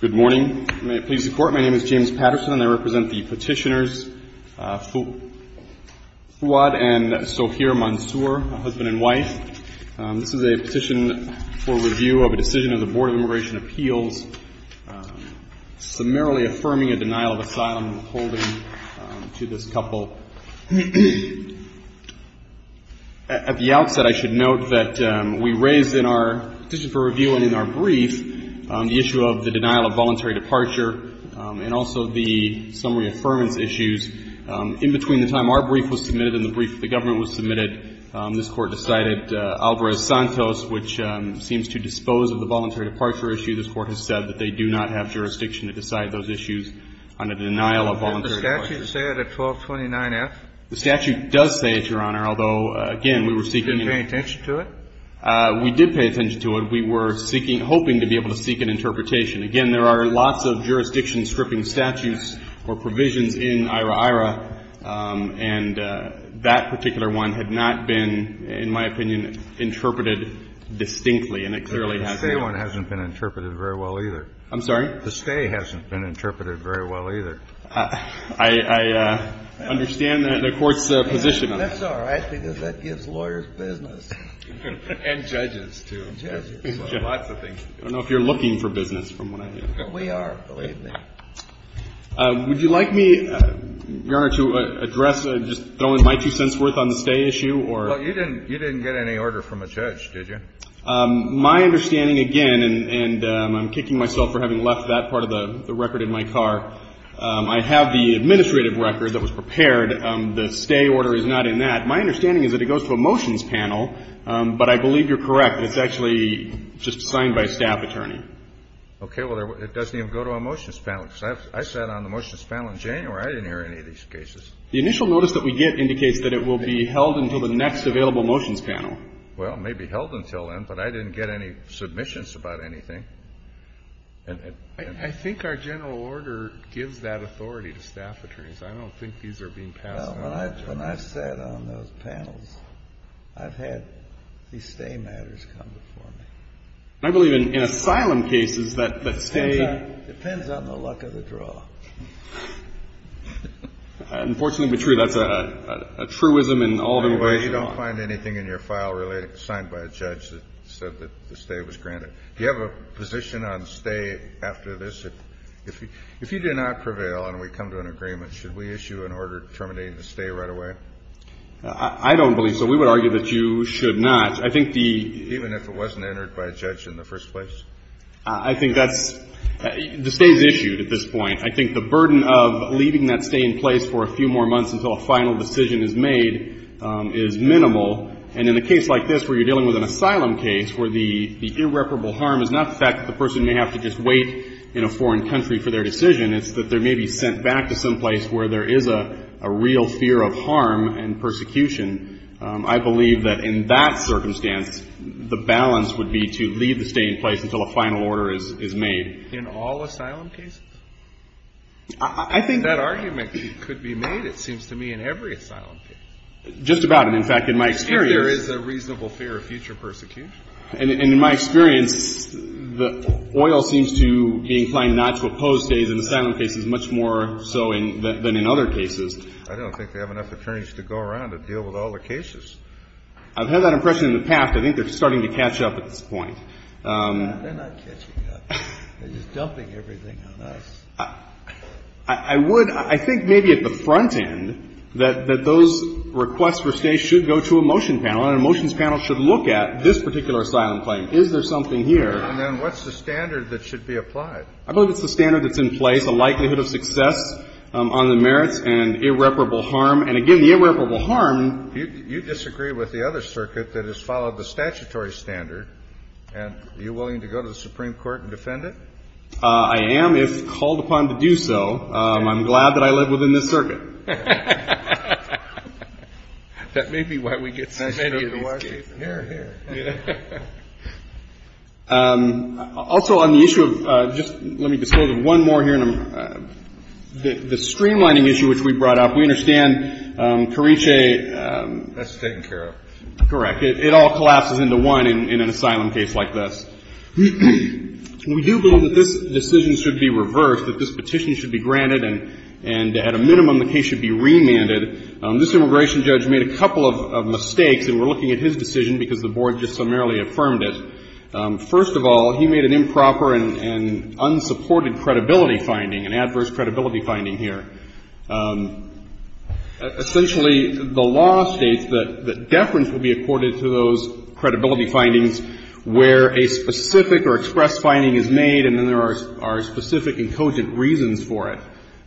Good morning. May it please the Court, my name is James Patterson and I represent the petitioners Fuad and Sohir Mansour, husband and wife. This is a petition for review of the decision of the Board of Immigration Appeals, summarily affirming a denial of asylum holding to this couple. At the outset, I should note that we raised in our petition for review and in our brief the issue of the denial of voluntary departure and also the summary affirmance issues. In between the time our brief was submitted and the brief of the government was submitted, this Court decided, Alvarez-Santos, which seems to dispose of the voluntary departure issue, this Court has said that they do not have jurisdiction to decide those issues on a denial of voluntary departure. And the statute say it at 1229F? The statute does say it, Your Honor, although, again, we were seeking to be able to seek an interpretation. Again, there are lots of jurisdiction-stripping statutes or provisions in IHRA-IHRA, and that particular one had not been, in my opinion, interpreted distinctly, and it clearly has been. But the stay one hasn't been interpreted very well, either. I'm sorry? The stay hasn't been interpreted very well, either. I understand the Court's position on that. That's all right, because that gives lawyers business. And judges, too. And judges, so lots of things. I don't know if you're looking for business from what I hear. We are, believe me. Would you like me, Your Honor, to address, just throw in my two cents' worth on the stay issue, or? Well, you didn't get any order from a judge, did you? My understanding, again, and I'm kicking myself for having left that part of the record in my car, I have the administrative record that was prepared. The stay order is not in that. My understanding is that it goes to a motions panel, but I believe you're correct. It's actually just signed by a staff attorney. Okay. Well, it doesn't even go to a motions panel, because I sat on the motions panel in January. I didn't hear any of these cases. The initial notice that we get indicates that it will be held until the next available motions panel. Well, it may be held until then, but I didn't get any submissions about anything. I think our general order gives that authority to staff attorneys. I don't think these are being passed on to us. When I sat on those panels, I've had these stay matters come before me. I believe in asylum cases that stay… Depends on the luck of the draw. Unfortunately true. That's a truism in all of immigration law. You don't find anything in your file signed by a judge that said that the stay was granted. Do you have a position on stay after this? If you do not prevail and we come to an agreement, should we issue an order terminating the stay right away? I don't believe so. We would argue that you should not. I think the… I think that's… The stay is issued at this point. I think the burden of leaving that stay in place for a few more months until a final decision is made is minimal. And in a case like this where you're dealing with an asylum case where the irreparable harm is not the fact that the person may have to just wait in a foreign country for their decision. It's that they may be sent back to some place where there is a real fear of harm and persecution. I believe that in that circumstance, the balance would be to leave the stay in place until a final order is made. In all asylum cases? I think… That argument could be made, it seems to me, in every asylum case. Just about. And in fact, in my experience… If there is a reasonable fear of future persecution. And in my experience, the oil seems to be inclined not to oppose stays in asylum cases much more so than in other cases. I don't think they have enough attorneys to go around and deal with all the cases. I've had that impression in the past. I think they're starting to catch up at this point. They're not catching up. They're just dumping everything on us. I would… I think maybe at the front end that those requests for stays should go to a motion panel, and a motions panel should look at this particular asylum claim. Is there something here? And then what's the standard that should be applied? I believe it's the standard that's in place, a likelihood of success on the merits and irreparable harm. And again, the irreparable harm… You disagree with the other circuit that has followed the statutory standard. And are you willing to go to the Supreme Court and defend it? I am, if called upon to do so. I'm glad that I live within this circuit. That may be why we get so many of these cases. Here, here. Also, on the issue of… Just let me disclose one more here. The streamlining issue which we brought up, we understand Carice… That's taken care of. Correct. It all collapses into one in an asylum case like this. We do believe that this decision should be reversed, that this petition should be granted, and at a minimum the case should be remanded. This immigration judge made a couple of mistakes, and we're looking at his decision because the board just summarily affirmed it. First of all, he made an improper and unsupported credibility finding, an adverse credibility finding here. Essentially, the law states that deference will be accorded to those credibility findings where a specific or expressed finding is made and then there are specific and cogent reasons for it.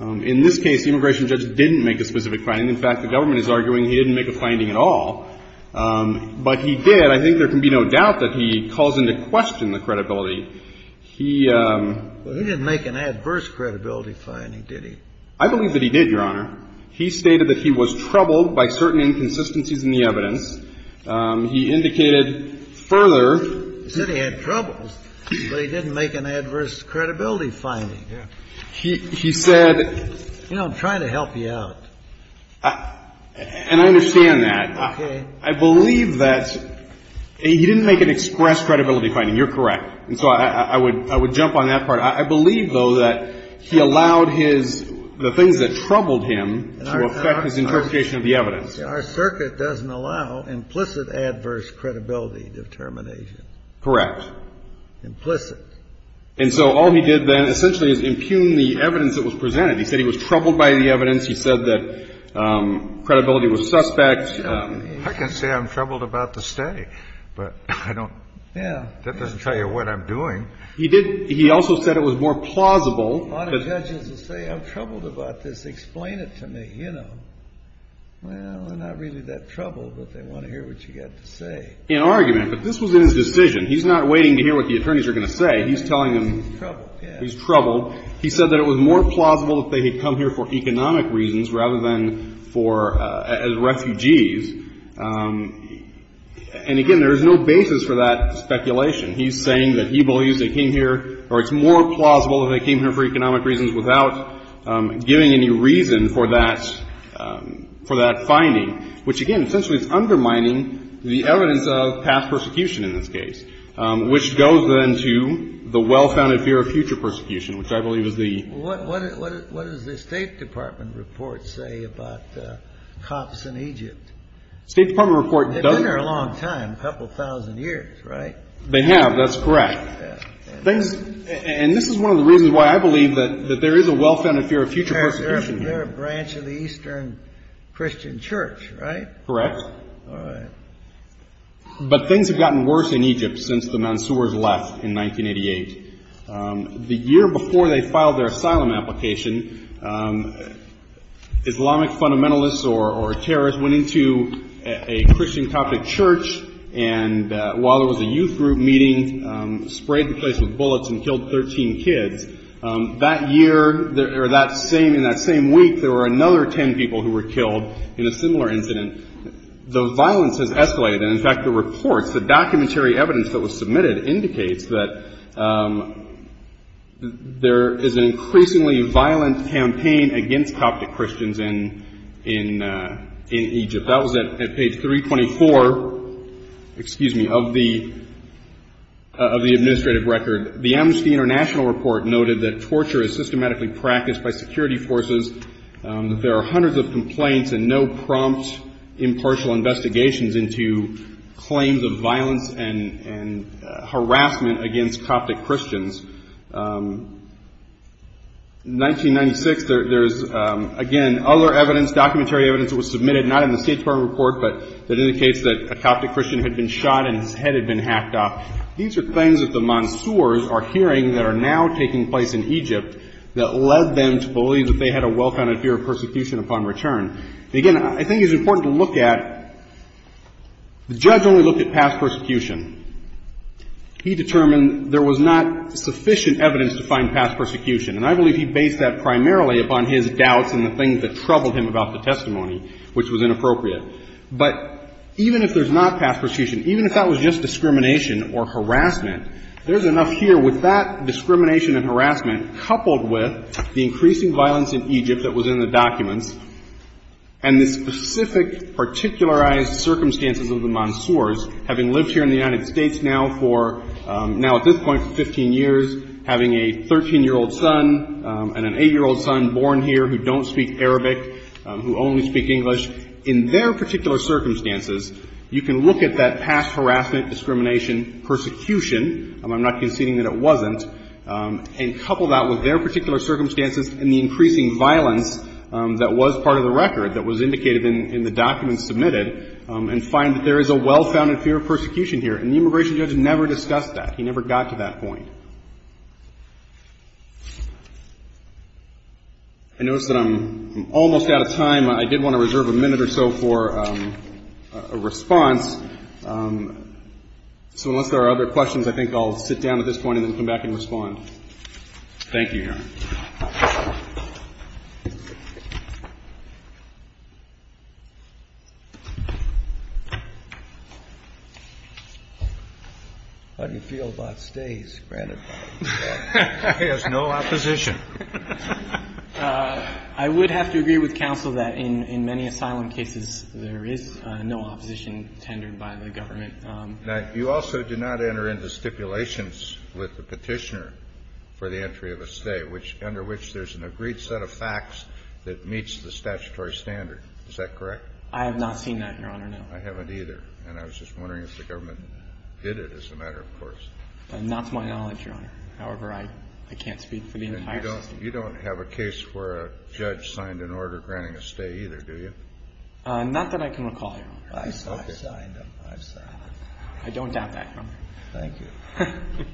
In this case, the immigration judge didn't make a specific finding. In fact, the government is arguing he didn't make a finding at all. But he did. I think there can be no doubt that he calls into question the credibility. He… Well, he didn't make an adverse credibility finding, did he? I believe that he did, Your Honor. He stated that he was troubled by certain inconsistencies in the evidence. He indicated further… He said he had troubles, but he didn't make an adverse credibility finding. He said… You know, I'm trying to help you out. And I understand that. I believe that he didn't make an expressed credibility finding. You're correct. And so I would jump on that part. I believe, though, that he allowed his – the things that troubled him to affect his interpretation of the evidence. Our circuit doesn't allow implicit adverse credibility determination. Correct. Implicit. And so all he did then essentially is impugn the evidence that was presented. He said he was troubled by the evidence. He said that credibility was suspect. I can say I'm troubled about the stay, but I don't – that doesn't tell you what I'm doing. He did – he also said it was more plausible. A lot of judges will say I'm troubled about this. Explain it to me, you know. Well, they're not really that troubled, but they want to hear what you've got to say. In argument, but this was in his decision. He's not waiting to hear what the attorneys are going to say. He's telling them… He's troubled. He's troubled.… for economic reasons rather than for – as refugees. And, again, there is no basis for that speculation. He's saying that he believes they came here – or it's more plausible that they came here for economic reasons without giving any reason for that – for that finding, which, again, essentially is undermining the evidence of past persecution in this case, which goes then to the well-founded fear of future persecution, which I believe is the… What does the State Department report say about cops in Egypt? State Department report doesn't… They've been there a long time, a couple thousand years, right? They have. That's correct. Things – and this is one of the reasons why I believe that there is a well-founded fear of future persecution here. They're a branch of the Eastern Christian Church, right? Correct. All right. But things have gotten worse in Egypt since the Mansours left in 1988. The year before they filed their asylum application, Islamic fundamentalists or terrorists went into a Christian Coptic church and, while there was a youth group meeting, sprayed the place with bullets and killed 13 kids. That year – or that same – in that same week, there were another 10 people who were killed in a similar incident. The violence has escalated. And, in fact, the reports – the documentary evidence that was submitted indicates that there is an increasingly violent campaign against Coptic Christians in Egypt. That was at page 324 – excuse me – of the administrative record. The Amnesty International report noted that torture is systematically practiced by security forces, that there are hundreds of complaints and no prompt impartial investigations into claims of violence and harassment against Coptic Christians. In 1996, there's – again, other evidence, documentary evidence that was submitted, not in the State Department report, but that indicates that a Coptic Christian had been shot and his head had been hacked off. These are things that the Mansours are hearing that are now taking place in Egypt that led them to believe that they had a well-founded fear of persecution upon return. And, again, I think it's important to look at – the judge only looked at past persecution. He determined there was not sufficient evidence to find past persecution. And I believe he based that primarily upon his doubts and the things that troubled him about the testimony, which was inappropriate. But even if there's not past persecution, even if that was just discrimination or harassment, there's enough here with that discrimination and harassment coupled with the increasing violence in Egypt that was in the documents and the specific particularized circumstances of the Mansours, having lived here in the United States now for – now at this point for 15 years, having a 13-year-old son and an 8-year-old son born here who don't speak Arabic, who only speak English, in their particular circumstances, you can look at that past harassment, discrimination, persecution – and I'm not conceding that it wasn't – and couple that with their particular circumstances and the increasing violence that was part of the record that was indicated in the documents submitted and find that there is a well-founded fear of persecution here. And the immigration judge never discussed that. He never got to that point. I notice that I'm almost out of time. I did want to reserve a minute or so for a response. So unless there are other questions, I think I'll sit down at this point and then come back and respond. Thank you, Your Honor. How do you feel about stays? Granted, there's no opposition. I would have to agree with counsel that in many asylum cases, there is no opposition tendered by the government. Now, you also did not enter into stipulations with the petitioner for the entry of a stay, which – under which there's an agreed set of facts that meets the statutory standard. Is that correct? I have not seen that, Your Honor, no. I haven't either. And I was just wondering if the government did it as a matter of course. Not to my knowledge, Your Honor. However, I can't speak for the entire system. And you don't have a case where a judge signed an order granting a stay either, do you? Not that I can recall, Your Honor. I've signed them. I've signed them. I don't doubt that, Your Honor. Thank you.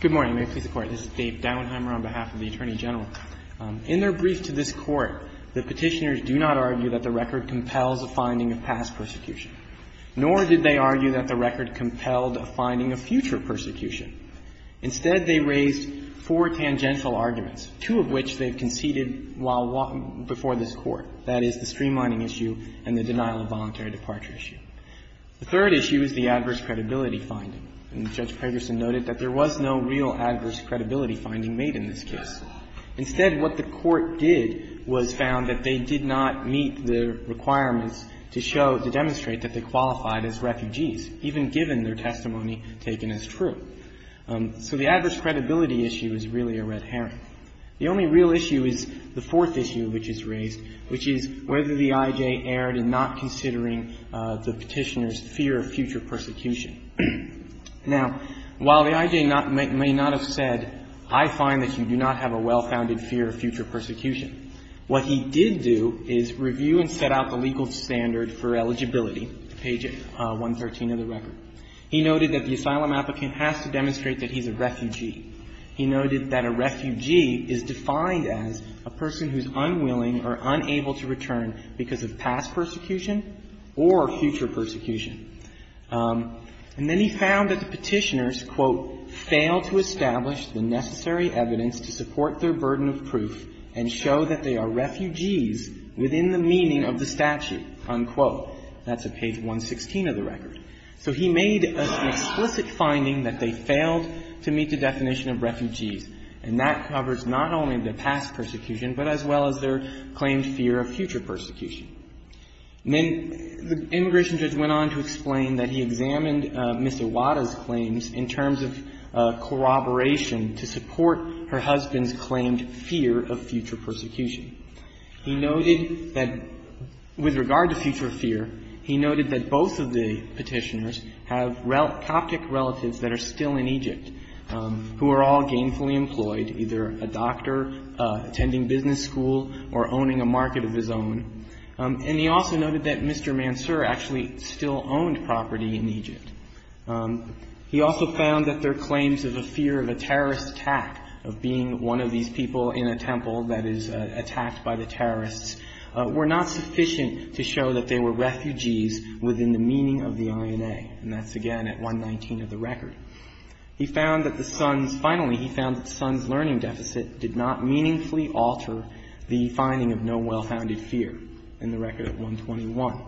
Good morning. May it please the Court. This is Dave Dauenheimer on behalf of the Attorney General. In their brief to this Court, the petitioners do not argue that the record compels a finding of past persecution, nor did they argue that the record compelled a finding of future persecution. Instead, they raised four tangential arguments, two of which they've conceded while walking before this Court, that is, the streamlining issue and the denial of voluntary departure issue. The third issue is the adverse credibility finding. And Judge Pegerson noted that there was no real adverse credibility finding made in this case. Instead, what the Court did was found that they did not meet the requirements to show, to demonstrate that they qualified as refugees, even given their testimony taken as true. So the adverse credibility issue is really a red herring. The only real issue is the fourth issue which is raised, which is whether the I.J. erred in not considering the petitioners' fear of future persecution. Now, while the I.J. may not have said, I find that you do not have a well-founded fear of future persecution, what he did do is review and set out the legal standard for eligibility, page 113 of the record. He noted that the asylum applicant has to demonstrate that he's a refugee. He noted that a refugee is defined as a person who's unwilling or unable to return because of past persecution or future persecution. And then he found that the petitioners, quote, fail to establish the necessary evidence to support their burden of proof and show that they are refugees within the meaning of the statute, unquote. That's at page 116 of the record. So he made an explicit finding that they failed to meet the definition of refugees, and that covers not only the past persecution, but as well as their claimed fear of future persecution. Then the immigration judge went on to explain that he examined Mr. Wada's claims in terms of corroboration to support her husband's claimed fear of future persecution. He noted that with regard to future fear, he noted that both of the petitioners have Coptic relatives that are still in Egypt who are all gainfully employed, either a doctor attending business school or owning a market of his own. And he also noted that Mr. Mansour actually still owned property in Egypt. He also found that their claims of a fear of a terrorist attack, of being one of these people in a temple that is attacked by the terrorists, were not sufficient to show that they were refugees within the meaning of the INA. And that's, again, at 119 of the record. He found that the sons' – finally, he found that the sons' learning deficit did not meaningfully alter the finding of no well-founded fear in the record 121.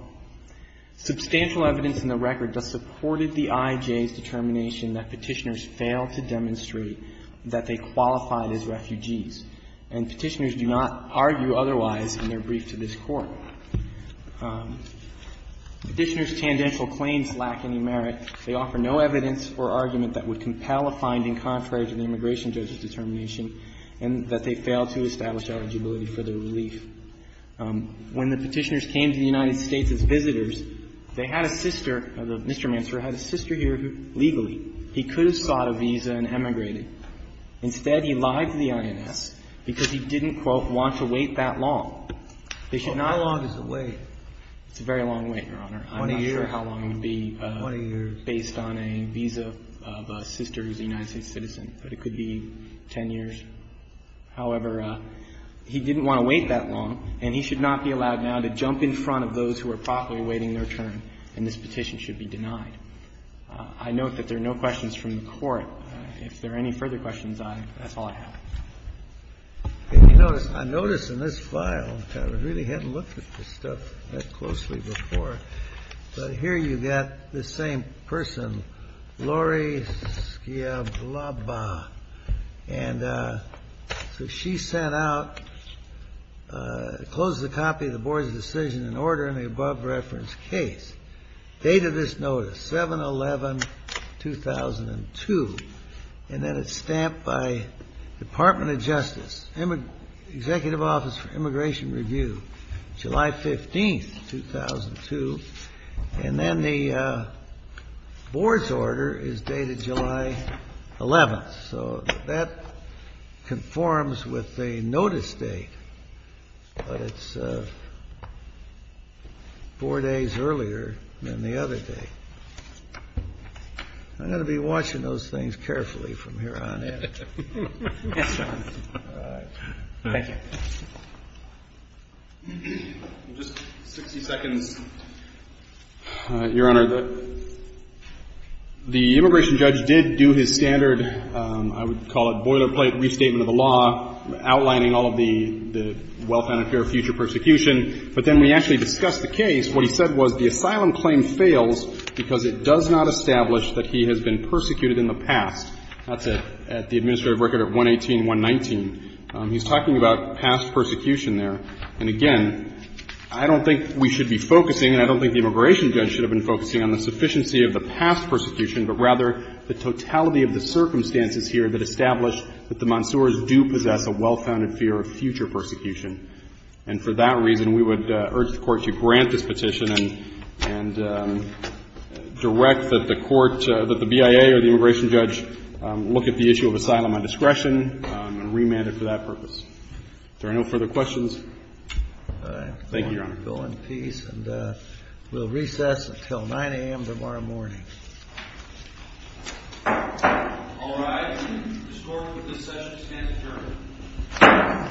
Substantial evidence in the record that supported the IJ's determination that petitioners failed to demonstrate that they qualified as refugees. And petitioners do not argue otherwise in their brief to this Court. Petitioners' tendential claims lack any merit. They offer no evidence or argument that would compel a finding contrary to the immigration judge's determination and that they failed to establish eligibility for their relief. When the petitioners came to the United States as visitors, they had a sister – Mr. Mansour had a sister here who, legally, he could have sought a visa and emigrated. Instead, he lied to the INS because he didn't, quote, want to wait that long. They should not have to wait. It's a very long wait, Your Honor. I'm not sure how long it would be based on a visa of a sister who's a United States citizen, but it could be 10 years. However, he didn't want to wait that long, and he should not be allowed now to jump in front of those who are properly waiting their turn, and this petition should be denied. I note that there are no questions from the Court. If there are any further questions, I – that's all I have. Kennedy. I notice in this file – I really hadn't looked at this stuff that closely before – but here you've got the same person, Laurie Skiablaba. And so she sent out – closes a copy of the Board's decision in order in the above-referenced case. Date of this notice, 7-11-2002. And then it's stamped by Department of Justice, Executive Office for Immigration Review, July 15th, 2002. And then the Board's order is dated July 11th. So that conforms with the notice date, but it's four days earlier than the other day. I'm going to be watching those things carefully from here on in. All right. Thank you. Just 60 seconds. Your Honor, the immigration judge did do his standard, I would call it boilerplate restatement of the law, outlining all of the well-founded fear of future persecution. But then we actually discussed the case. What he said was the asylum claim fails because it does not establish that he has been persecuted in the past. That's at the administrative record at 118, 119. He's talking about past persecution there. And again, I don't think we should be focusing, and I don't think the immigration judge should have been focusing on the sufficiency of the past persecution, but rather the totality of the circumstances here that establish that the Monsoors do possess a well-founded fear of future persecution. And for that reason, we would urge the Court to grant this petition and direct that the court, that the BIA or the immigration judge look at the issue of asylum on discretion and remand it for that purpose. Are there no further questions? Thank you, Your Honor. All right. Go in peace. And we'll recess until 9 a.m. tomorrow morning. All right. This session is adjourned. Thank you.